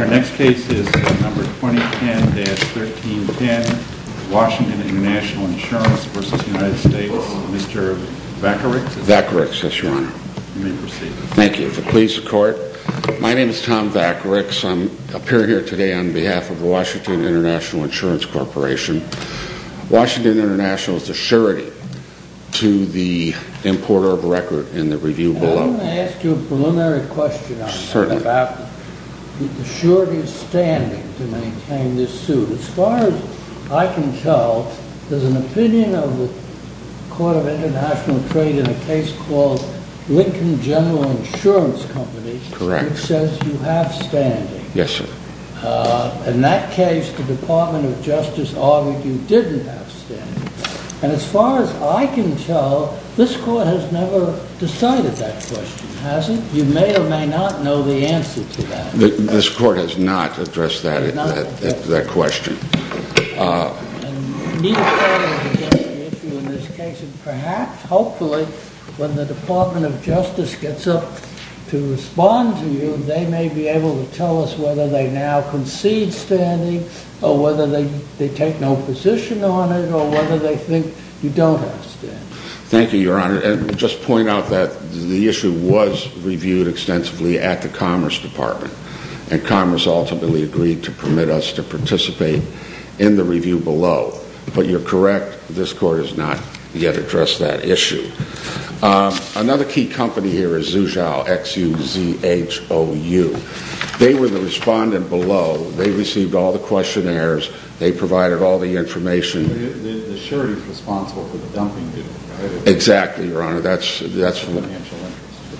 Our next case is number 2010-1310, Washington International Insurance v. United States. Mr. Vakarix. Vakarix, yes, your honor. You may proceed. Thank you. If it pleases the court, my name is Tom Vakarix. I'm appearing here today on behalf of Washington International Insurance Corporation. Washington International is a surety to the importer of record in the review below. I'm going to ask you a preliminary question on that. Certainly. The surety's standing to maintain this suit. As far as I can tell, there's an opinion of the court of international trade in a case called Lincoln General Insurance Company. Correct. Yes, sir. In that case, the Department of Justice argued you didn't have standing. And as far as I can tell, this court has never decided that question, has it? You may or may not know the answer to that. This court has not addressed that question. Perhaps, hopefully, when the Department of Justice gets up to respond to you, they may be able to tell us whether they now concede standing, or whether they take no position on it, or whether they think you don't have standing. Thank you, Your Honor. And just to point out that the issue was reviewed extensively at the Commerce Department, and Commerce ultimately agreed to permit us to participate in the review below. But you're correct, this court has not yet addressed that issue. Another key company here is Zuzhou, X-U-Z-H-O-U. They were the respondent below. They received all the questionnaires. They provided all the information. The surety's responsible for the dumping, didn't it? Exactly, Your Honor. That's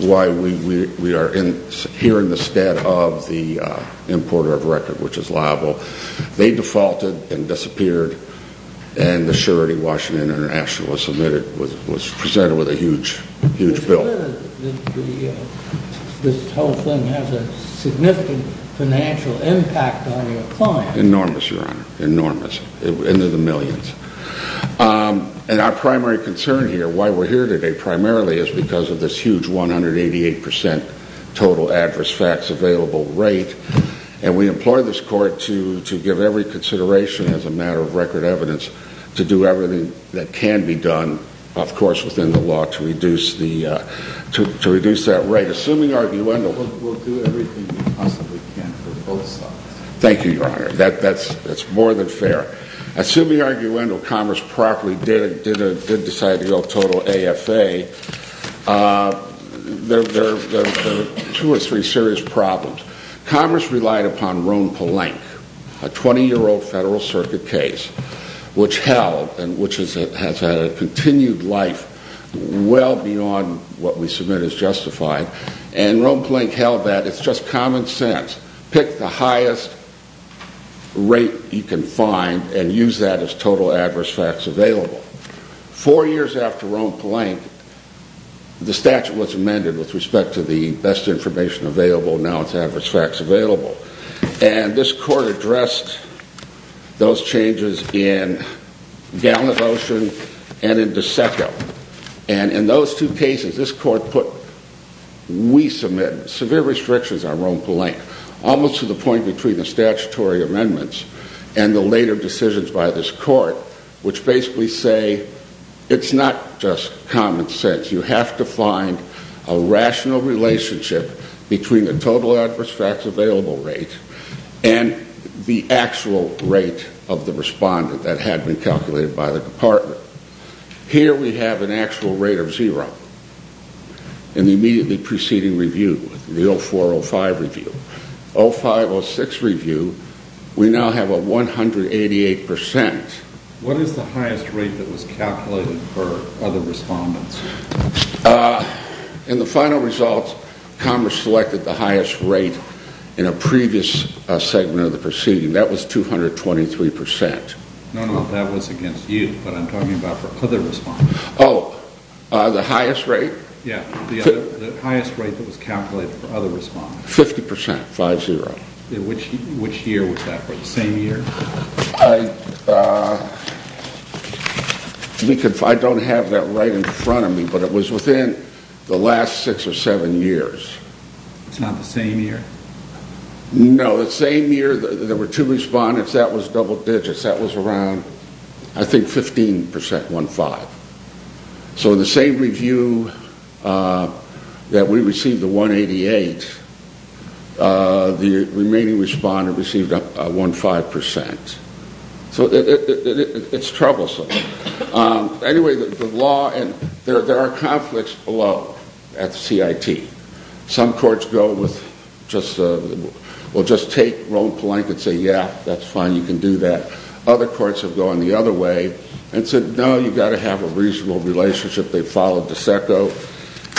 why we are here in the stead of the importer of record, which is liable. They defaulted and disappeared, and the surety, Washington International, was presented with a huge bill. It's clear that this whole thing has a significant financial impact on your client. Enormous, Your Honor. Enormous. Into the millions. And our primary concern here, why we're here today primarily, is because of this huge 188% total adverse facts available rate. And we implore this court to give every consideration, as a matter of record evidence, to do everything that can be done, of course within the law, to reduce that rate. Assuming arguenda, we'll do everything we possibly can for both sides. Thank you, Your Honor. That's more than fair. Assuming arguenda, Congress properly did decide to go total AFA, there are two or three serious problems. Congress relied upon Roan-Plank, a 20-year-old Federal Circuit case, which held, and which has had a continued life well beyond what we submit as justified. And Roan-Plank held that it's just common sense. Pick the highest rate you can find and use that as total adverse facts available. Four years after Roan-Plank, the statute was amended with respect to the best information available, now it's adverse facts available. And this court addressed those changes in Gallant Ocean and in DeSeto. And in those two cases, this court put, we submit, severe restrictions on Roan-Plank. Almost to the point between the statutory amendments and the later decisions by this court, which basically say, it's not just common sense. You have to find a rational relationship between the total adverse facts available rate and the actual rate of the respondent that had been calculated by the department. Here we have an actual rate of zero in the immediately preceding review, the 0405 review. 0506 review, we now have a 188%. What is the highest rate that was calculated for other respondents? In the final results, Congress selected the highest rate in a previous segment of the proceeding. That was 223%. No, no, that was against you, but I'm talking about for other respondents. Oh, the highest rate? Yeah, the highest rate that was calculated for other respondents. 50%, 5-0. Which year was that, the same year? I don't have that right in front of me, but it was within the last six or seven years. It's not the same year? No, the same year there were two respondents, that was double digits. That was around, I think, 15%, 1-5. So the same review that we received, the 188, the remaining respondent received a 1-5%. So it's troublesome. Anyway, the law, and there are conflicts below at the CIT. Some courts go with, well just take, roll the blanket and say, yeah, that's fine, you can do that. Other courts have gone the other way and said, no, you've got to have a reasonable relationship. They followed DeSecco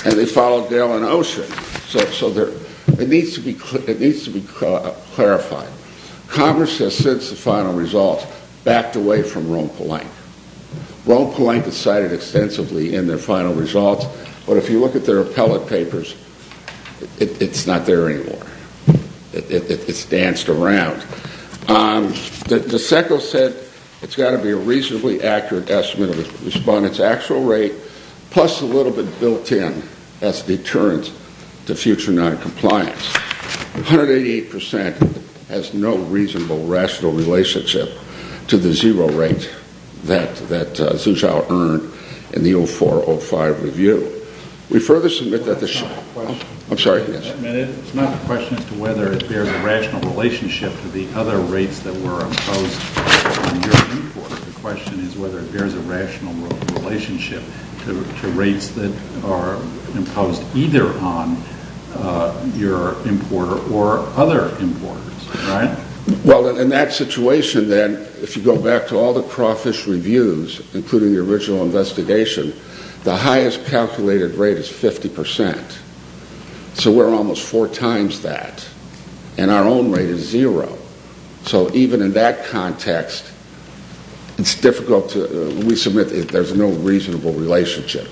and they followed Dale and Osher. So it needs to be clarified. Congress has since the final results backed away from Roe and Polank. Roe and Polank is cited extensively in their final results, but if you look at their appellate papers, it's not there anymore. It's danced around. DeSecco said it's got to be a reasonably accurate estimate of the respondent's actual rate, plus a little bit built in as a deterrent to future noncompliance. 188% has no reasonable, rational relationship to the zero rate that Xu Xiao earned in the 04-05 review. It's not a question as to whether it bears a rational relationship to the other rates that were imposed on your importer. The question is whether it bears a rational relationship to rates that are imposed either on your importer or other importers. Well, in that situation then, if you go back to all the Crawfish reviews, including the original investigation, the highest calculated rate is 50%. So we're almost four times that. And our own rate is zero. So even in that context, it's difficult to, we submit that there's no reasonable relationship.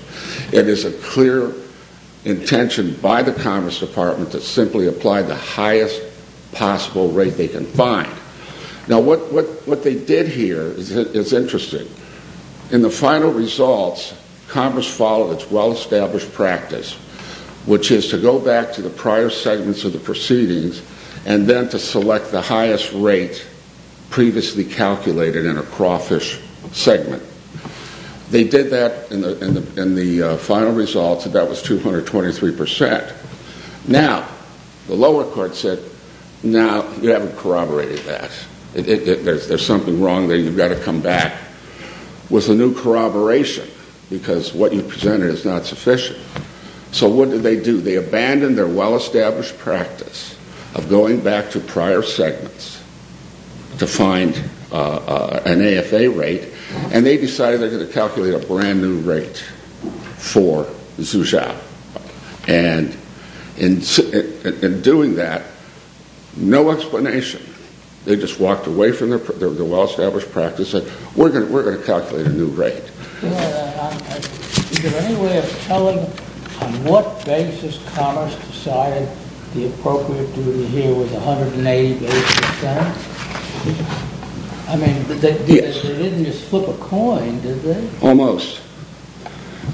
It is a clear intention by the Congress Department to simply apply the highest possible rate they can find. Now what they did here is interesting. In the final results, Congress followed its well-established practice, which is to go back to the prior segments of the proceedings, and then to select the highest rate previously calculated in a Crawfish segment. They did that in the final results, and that was 223%. Now, the lower court said, now, you haven't corroborated that. There's something wrong there. You've got to come back with a new corroboration, because what you presented is not sufficient. So what did they do? They abandoned their well-established practice of going back to prior segments to find an AFA rate, and they decided they're going to calculate a brand new rate for Zusha. And in doing that, no explanation. They just walked away from their well-established practice and said, we're going to calculate a new rate. Is there any way of telling on what basis Congress decided the appropriate duty here was 180 to 80%? I mean, they didn't just flip a coin, did they? Almost.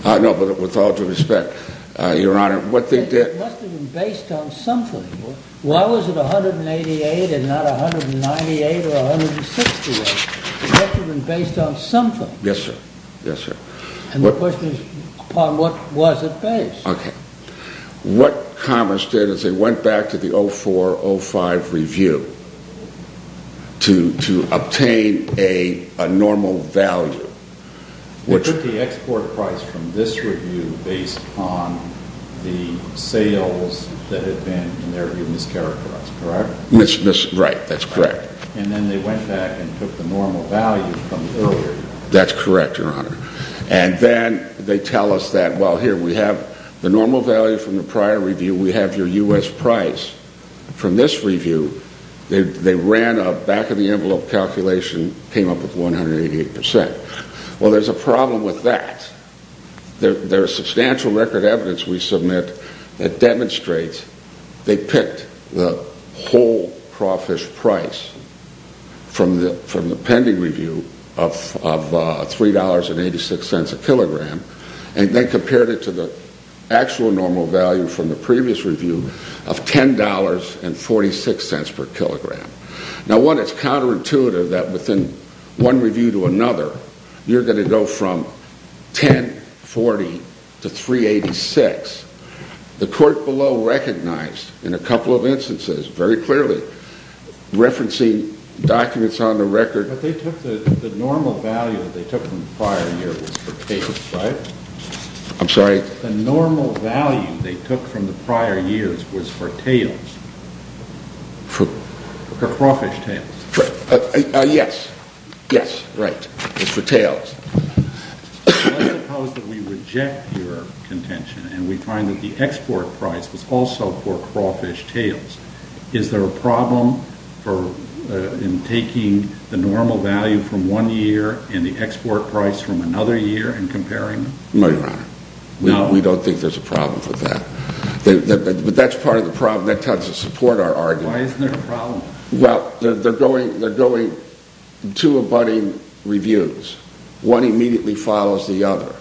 No, but with all due respect, Your Honor, what they did- It must have been based on something. Why was it 188 and not 198 or 161? It must have been based on something. Yes, sir. And the question is, upon what was it based? Okay. What Congress did is they went back to the 0405 review to obtain a normal value. They took the export price from this review based on the sales that had been, in their view, mischaracterized, correct? Right, that's correct. And then they went back and took the normal value from earlier. That's correct, Your Honor. And then they tell us that, well, here we have the normal value from the prior review, we have your U.S. price. From this review, they ran a back-of-the-envelope calculation, came up with 188%. Well, there's a problem with that. There's substantial record evidence we submit that demonstrates they picked the whole crawfish price from the pending review of $3.86 a kilogram and then compared it to the actual normal value from the previous review of $10.46 per kilogram. Now, one, it's counterintuitive that within one review to another, you're going to go from $10.40 to $3.86. The court below recognized, in a couple of instances, very clearly, referencing documents on the record. But the normal value that they took from the prior year was for tails, right? I'm sorry? The normal value they took from the prior years was for tails. For? For crawfish tails. Yes, yes, right, for tails. Let's suppose that we reject your contention and we find that the export price was also for crawfish tails. Is there a problem in taking the normal value from one year and the export price from another year and comparing them? No, Your Honor. No? We don't think there's a problem with that. But that's part of the problem. That doesn't support our argument. Why isn't there a problem? Well, they're going to abutting reviews. One immediately follows the other.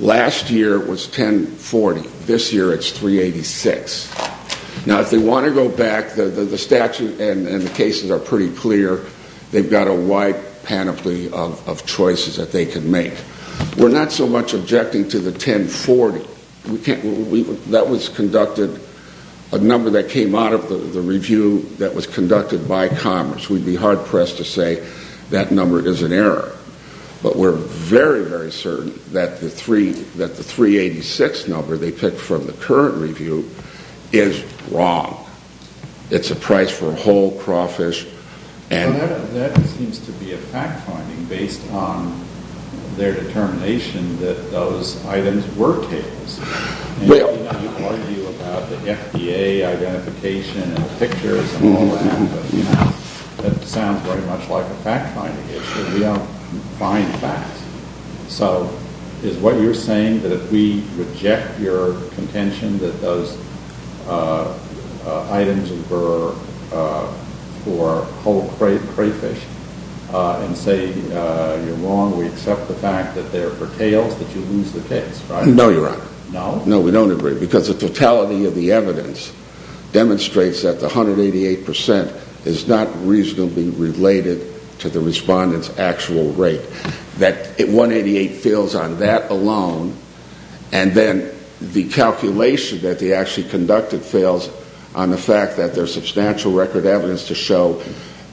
Last year, it was $10.40. This year, it's $3.86. Now, if they want to go back, the statute and the cases are pretty clear. They've got a wide panoply of choices that they can make. We're not so much objecting to the $10.40. That was conducted, a number that came out of the review that was conducted by Commerce. We'd be hard-pressed to say that number is an error. But we're very, very certain that the $3.86 number they picked from the current review is wrong. It's a price for a whole crawfish. That seems to be a fact-finding based on their determination that those items were tails. You argue about the FDA identification and the pictures and all that. That sounds very much like a fact-finding issue. We don't find facts. So, is what you're saying that if we reject your contention that those items were for whole crayfish and say you're wrong, we accept the fact that they're for tails, that you lose the case, right? No, Your Honor. No, we don't agree. Because the totality of the evidence demonstrates that the 188% is not reasonably related to the respondent's actual rate. That 188 fails on that alone. And then the calculation that they actually conducted fails on the fact that there's substantial record evidence to show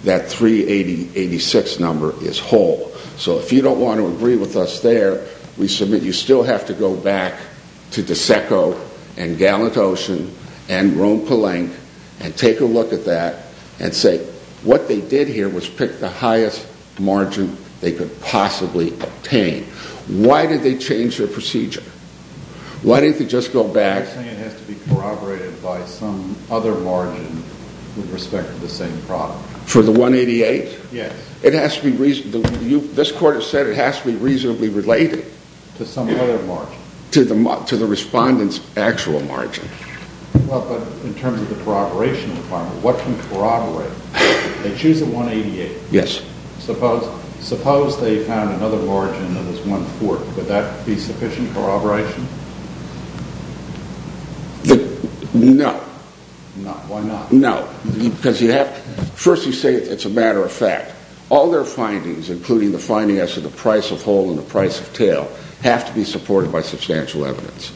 that $3.86 number is whole. So, if you don't want to agree with us there, we submit you still have to go back to DSECO and Gallant Ocean and Rome Palenque and take a look at that and say what they did here was pick the highest margin they could possibly obtain. Why did they change their procedure? Why didn't they just go back... You're saying it has to be corroborated by some other margin with respect to the same product. For the 188? Yes. This court has said it has to be reasonably related. To some other margin. To the respondent's actual margin. Well, but in terms of the corroboration requirement, what can corroborate? They choose a 188. Yes. Suppose they found another margin that was 1-4. Would that be sufficient corroboration? No. Why not? No. First you say it's a matter of fact. All their findings, including the finding as to the price of whole and the price of tail, have to be supported by substantial evidence.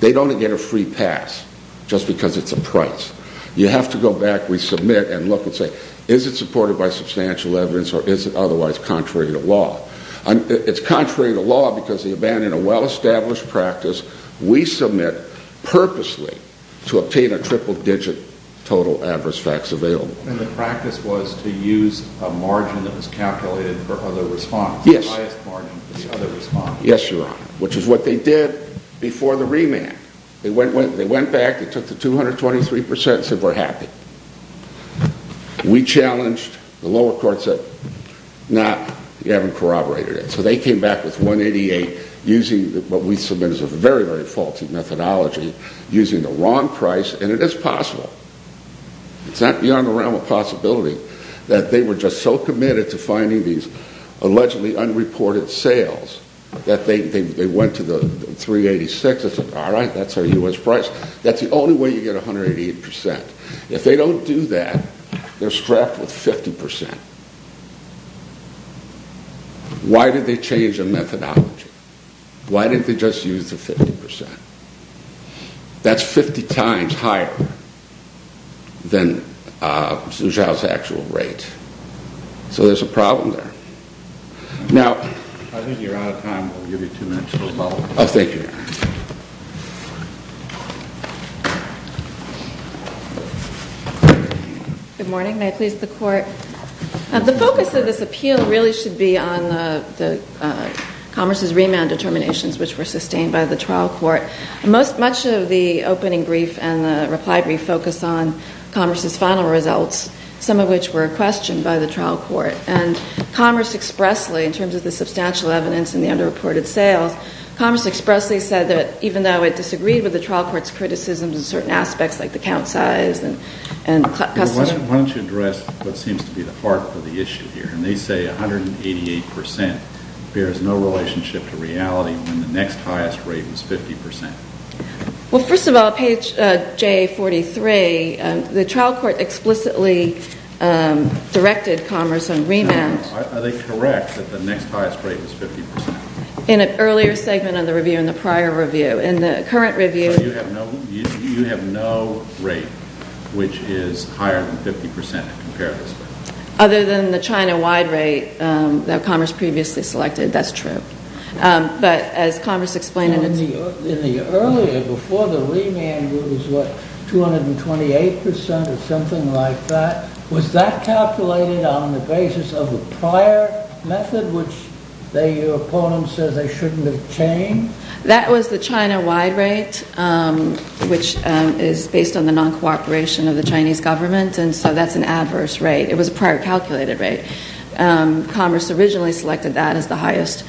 They don't get a free pass just because it's a price. You have to go back, resubmit, and look and say is it supported by substantial evidence or is it otherwise contrary to law? It's contrary to law because they abandon a well-established practice. We submit purposely to obtain a triple-digit total adverse facts available. And the practice was to use a margin that was calculated for other response. Yes. The highest margin for the other response. Yes, Your Honor. Which is what they did before the remand. They went back, they took the 223% and said we're happy. We challenged the lower courts that you haven't corroborated it. So they came back with 188 using what we submit as a very, very faulty methodology, using the wrong price. And it is possible. It's not beyond the realm of possibility that they were just so committed to finding these allegedly unreported sales that they went to the 386 and said all right, that's our U.S. price. That's the only way you get 188%. If they don't do that, they're strapped with 50%. Why did they change their methodology? Why didn't they just use the 50%? That's 50 times higher than Zhu Xiao's actual rate. So there's a problem there. Now... I think you're out of time. Thank you, Your Honor. Good morning. May I please the Court? The focus of this appeal really should be on the Commerce's remand determinations which were sustained by the trial court. Much of the opening brief and the reply brief focused on Commerce's final results, some of which were questioned by the trial court. And Commerce expressly, in terms of the substantial evidence and the underreported sales, Commerce expressly said that even though it disagreed with the trial court's criticisms in certain aspects like the count size and custody... Why don't you address what seems to be the heart of the issue here? And they say 188% bears no relationship to reality when the next highest rate was 50%. Well, first of all, page J43, the trial court explicitly directed Commerce on remand... Are they correct that the next highest rate was 50%? In an earlier segment of the review, in the prior review. In the current review... So you have no rate which is higher than 50% in comparison? Other than the China-wide rate that Commerce previously selected, that's true. But as Commerce explained in its... That was the China-wide rate, which is based on the non-cooperation of the Chinese government, and so that's an adverse rate. It was a prior calculated rate. Commerce originally selected that as the highest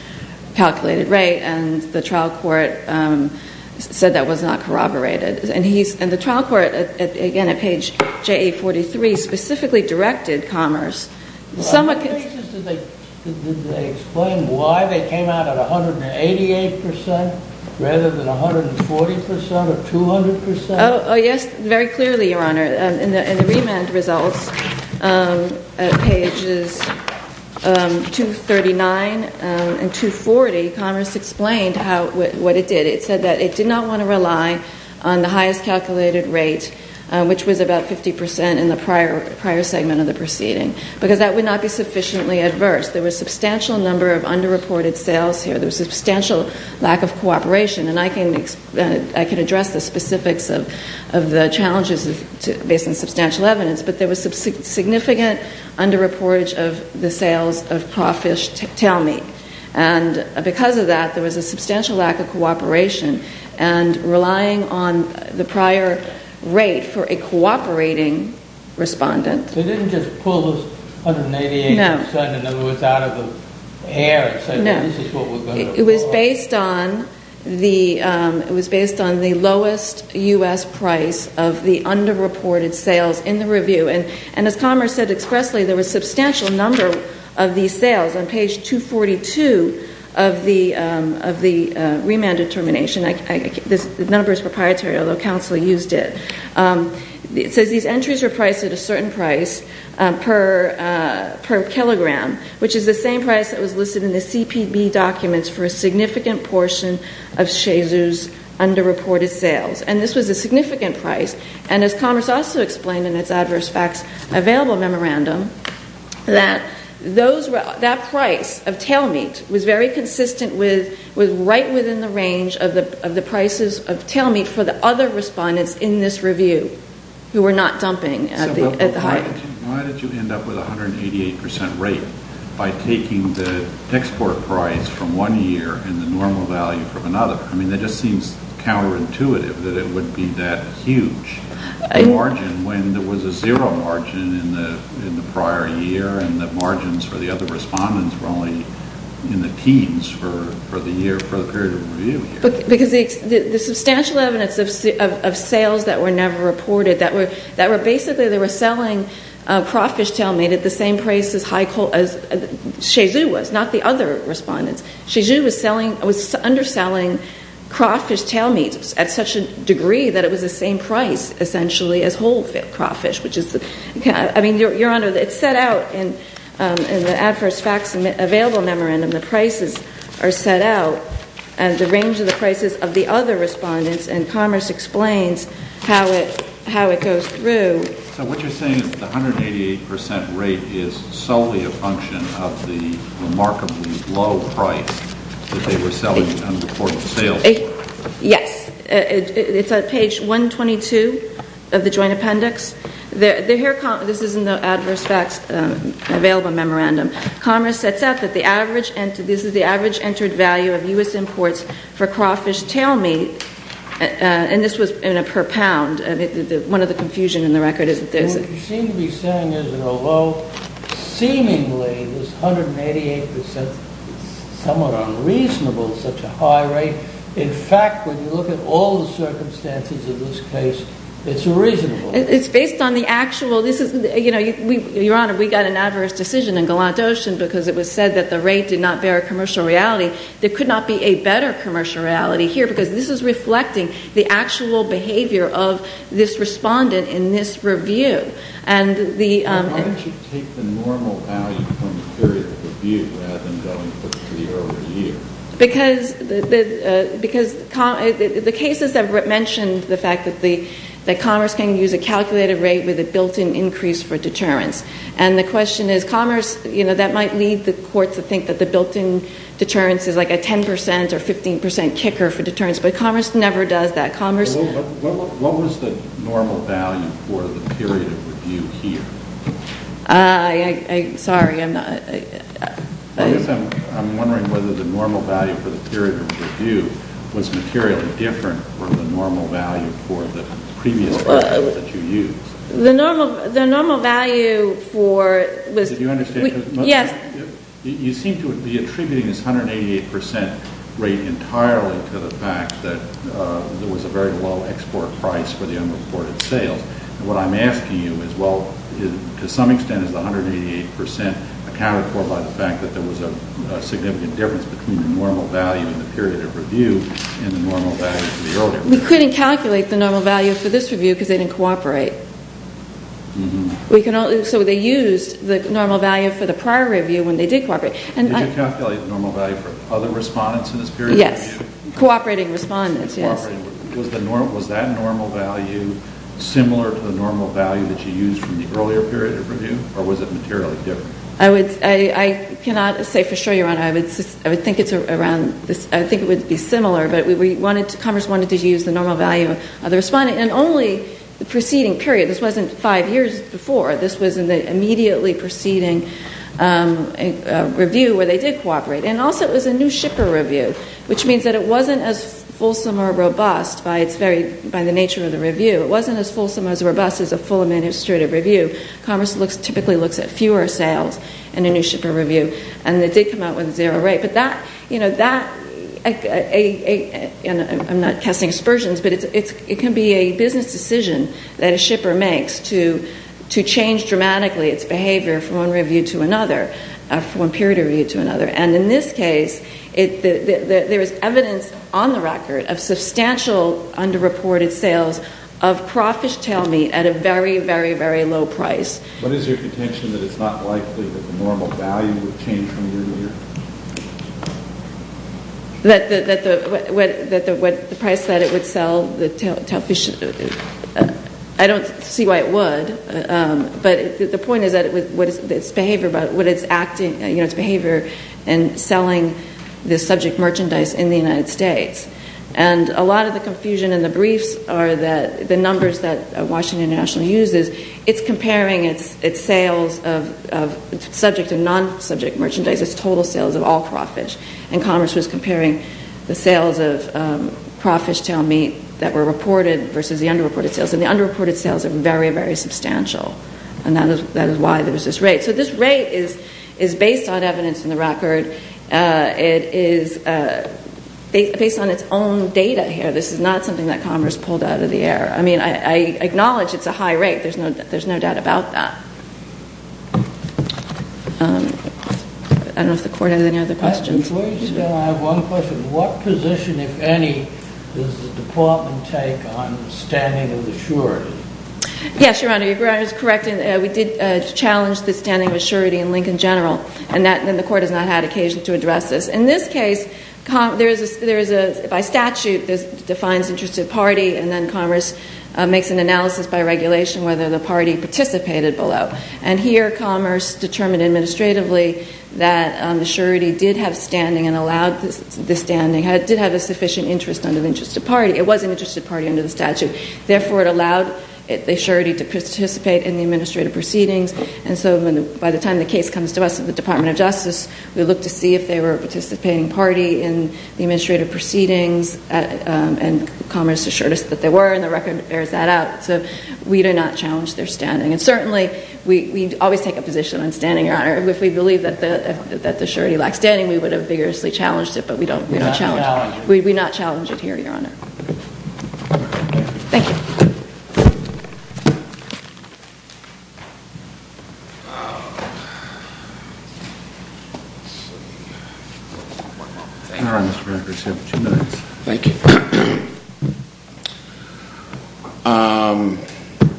calculated rate, and the trial court said that was not corroborated. And the trial court, again at page J43, specifically directed Commerce... Did they explain why they came out at 188% rather than 140% or 200%? Oh yes, very clearly, Your Honor. In the remand results, at pages 239 and 240, Commerce explained what it did. It said that it did not want to rely on the highest calculated rate, which was about 50% in the prior segment of the proceeding. Because that would not be sufficiently adverse. There was a substantial number of under-reported sales here. There was substantial lack of cooperation, and I can address the specifics of the challenges based on substantial evidence. But there was significant under-reportage of the sales of crawfish tail meat. And because of that, there was a substantial lack of cooperation, and relying on the prior rate for a cooperating respondent... So they didn't just pull those 188% out of the air and say this is what we're going to... No. It was based on the lowest U.S. price of the under-reported sales in the review. And as Commerce said expressly, there was a substantial number of these sales on page 242 of the remand determination. The number is proprietary, although counsel used it. It says these entries were priced at a certain price per kilogram, which is the same price that was listed in the CPB documents for a significant portion of Shayser's under-reported sales. And this was a significant price. And as Commerce also explained in its adverse facts available memorandum, that price of tail meat was very consistent with right within the range of the prices of tail meat for the other respondents in this review who were not dumping at the height. So why did you end up with a 188% rate by taking the export price from one year and the normal value from another? I mean, it just seems counterintuitive that it would be that huge a margin when there was a zero margin in the prior year and the margins for the other respondents were only in the teens for the period of review. Because the substantial evidence of sales that were never reported, that were basically they were selling crawfish tail meat at the same price as Shayser was, not the other respondents. Shayser was underselling crawfish tail meat at such a degree that it was the same price essentially as whole crawfish. I mean, Your Honor, it's set out in the adverse facts available memorandum. The prices are set out and the range of the prices of the other respondents and Commerce explains how it goes through. So what you're saying is that the 188% rate is solely a function of the remarkably low price that they were selling unreported sales? Yes. It's on page 122 of the joint appendix. This is in the adverse facts available memorandum. Commerce sets out that this is the average entered value of U.S. imports for crawfish tail meat, and this was in a per pound. One of the confusion in the record is that there's... What you seem to be saying is that although seemingly this 188% is somewhat unreasonable at such a high rate, in fact, when you look at all the circumstances of this case, it's reasonable. It's based on the actual... Your Honor, we got an adverse decision in Galant Ocean because it was said that the rate did not bear a commercial reality. There could not be a better commercial reality here because this is reflecting the actual behavior of this respondent in this review. And the... Why don't you take the normal value from the period of review rather than going for the earlier year? Because the cases that mentioned the fact that Commerce can use a calculated rate with a built-in increase for deterrence. And the question is Commerce, you know, that might lead the court to think that the built-in deterrence is like a 10% or 15% kicker for deterrence, but Commerce never does that. Commerce... What was the normal value for the period of review here? Sorry, I'm not... I'm wondering whether the normal value for the period of review was materially different from the normal value for the previous version that you used. The normal value for... Did you understand? Yes. You seem to be attributing this 188% rate entirely to the fact that there was a very low export price for the unreported sales. And what I'm asking you is, well, to some extent is the 188% accounted for by the fact that there was a significant difference between the normal value in the period of review and the normal value for the earlier period. We couldn't calculate the normal value for this review because they didn't cooperate. So they used the normal value for the prior review when they did cooperate. Did you calculate the normal value for other respondents in this period of review? Yes. Cooperating respondents, yes. Was that normal value similar to the normal value that you used from the earlier period of review? I cannot say for sure, Your Honor. I think it would be similar, but Commerce wanted to use the normal value of the respondent in only the preceding period. This wasn't five years before. This was in the immediately preceding review where they did cooperate. And also it was a new shipper review, which means that it wasn't as fulsome or robust by the nature of the review. It wasn't as fulsome or as robust as a full administrative review. Commerce typically looks at fewer sales in a new shipper review. And it did come out with a zero rate. I'm not casting aspersions, but it can be a business decision that a shipper makes to change dramatically its behavior from one period of review to another. And in this case, there is evidence on the record of substantial underreported sales of crawfish tail meat at a very, very, very low price. What is your contention that it's not likely that the normal value would change from the earlier period? The price that it would sell the tail fish, I don't see why it would. But the point is that its behavior and selling the subject merchandise in the United States. And a lot of the confusion in the briefs are the numbers that Washington International uses. It's comparing its sales of subject and non-subject merchandise, its total sales of all crawfish. And Commerce was comparing the sales of crawfish tail meat that were reported versus the underreported sales. And the underreported sales are very, very substantial. And that is why there was this rate. So this rate is based on evidence in the record. It is based on its own data here. This is not something that Commerce pulled out of the air. I mean, I acknowledge it's a high rate. There's no doubt about that. I don't know if the Court has any other questions. Before you do that, I have one question. What position, if any, does the Department take on standing of the surety? Yes, Your Honor, Your Honor is correct. We did challenge the standing of a surety in Lincoln General, and the Court has not had occasion to address this. In this case, by statute, this defines interest of party, and then Commerce makes an analysis by regulation whether the party participated below. And here Commerce determined administratively that the surety did have standing and allowed the standing. It did have a sufficient interest under the interest of party. It was an interest of party under the statute. Therefore, it allowed the surety to participate in the administrative proceedings. And so by the time the case comes to us at the Department of Justice, we look to see if they were a participating party in the administrative proceedings, and Commerce assured us that they were, and the record bears that out. So we do not challenge their standing. And certainly, we always take a position on standing, Your Honor. If we believe that the surety lacks standing, we would have vigorously challenged it, but we don't challenge it. We do not challenge it. We do not challenge it here, Your Honor. Thank you.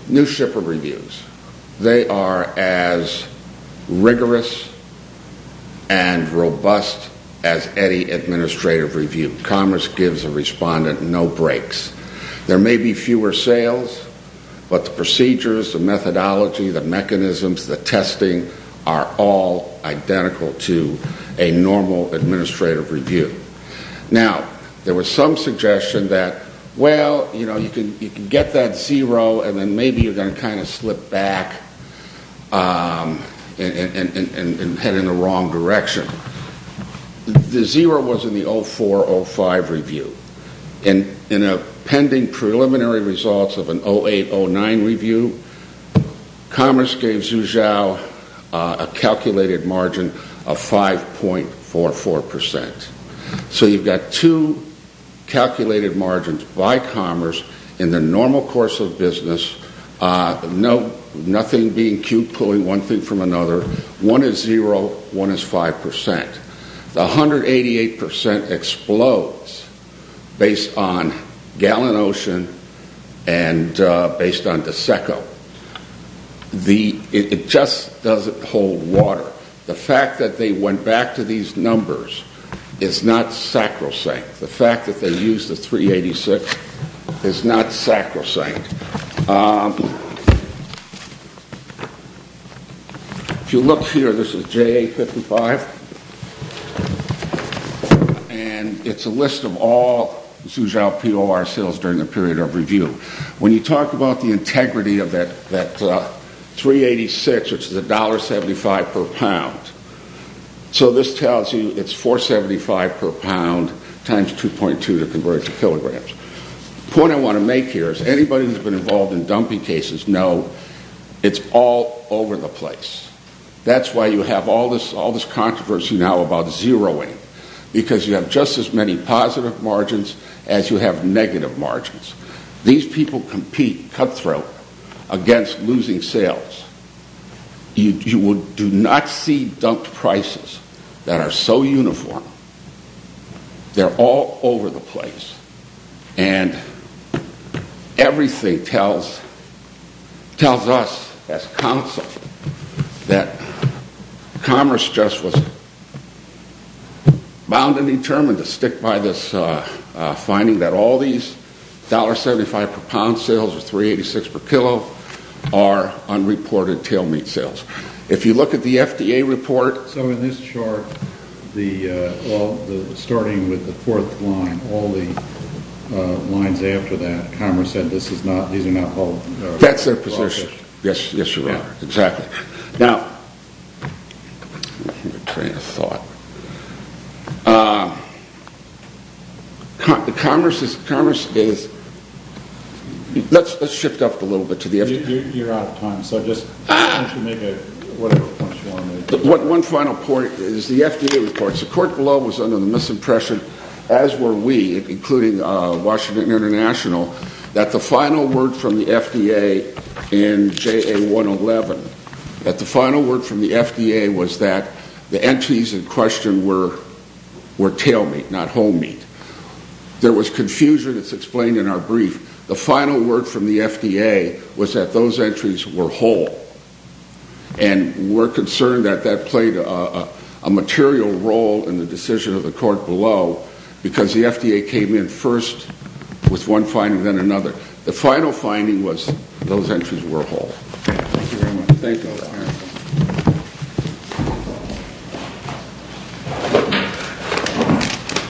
New Shipper Reviews. They are as rigorous and robust as any administrative review. Commerce gives a respondent no breaks. There may be fewer sales, but the procedures, the methodology, the mechanisms, the testing, are all identical to a normal administrative review. Now, there was some suggestion that, well, you know, you can get that zero, and then maybe you're going to kind of slip back and head in the wrong direction. The zero was in the 0405 review. In a pending preliminary results of an 0809 review, Commerce gave Zhu Xiao a calculated margin of 5.44%. So you've got two calculated margins by Commerce in the normal course of business, nothing being cute, pulling one thing from another. One is zero, one is 5%. The 188% explodes based on Gallin Ocean and based on DSECO. It just doesn't hold water. The fact that they went back to these numbers is not sacrosanct. The fact that they used the 386 is not sacrosanct. If you look here, this is JA55, and it's a list of all Zhu Xiao POR sales during the period of review. When you talk about the integrity of that 386, which is $1.75 per pound, so this tells you it's $4.75 per pound times 2.2 to convert to kilograms. The point I want to make here is anybody who's been involved in dumping cases know it's all over the place. That's why you have all this controversy now about zeroing, because you have just as many positive margins as you have negative margins. These people compete, cutthroat, against losing sales. You do not see dumped prices that are so uniform. They're all over the place. Everything tells us as counsel that commerce just was bound and determined to stick by this finding that all these $1.75 per pound sales or 386 per kilo are unreported tail meat sales. If you look at the FDA report... So in this chart, starting with the fourth line, all the lines after that, commerce said these are not... That's their position. Yes, you are. Exactly. Let's shift up a little bit to the FDA. You're out of time, so just make whatever points you want to make. One final point is the FDA report. The court below was under the misimpression, as were we, including Washington International, that the final word from the FDA in JA111, that the final word from the FDA was that the entities in question were tail meat, not whole meat. There was confusion. It's explained in our brief. The final word from the FDA was that those entries were whole, and we're concerned that that played a material role in the decision of the court below because the FDA came in first with one finding, then another. The final finding was those entries were whole. Thank you very much. Thank you.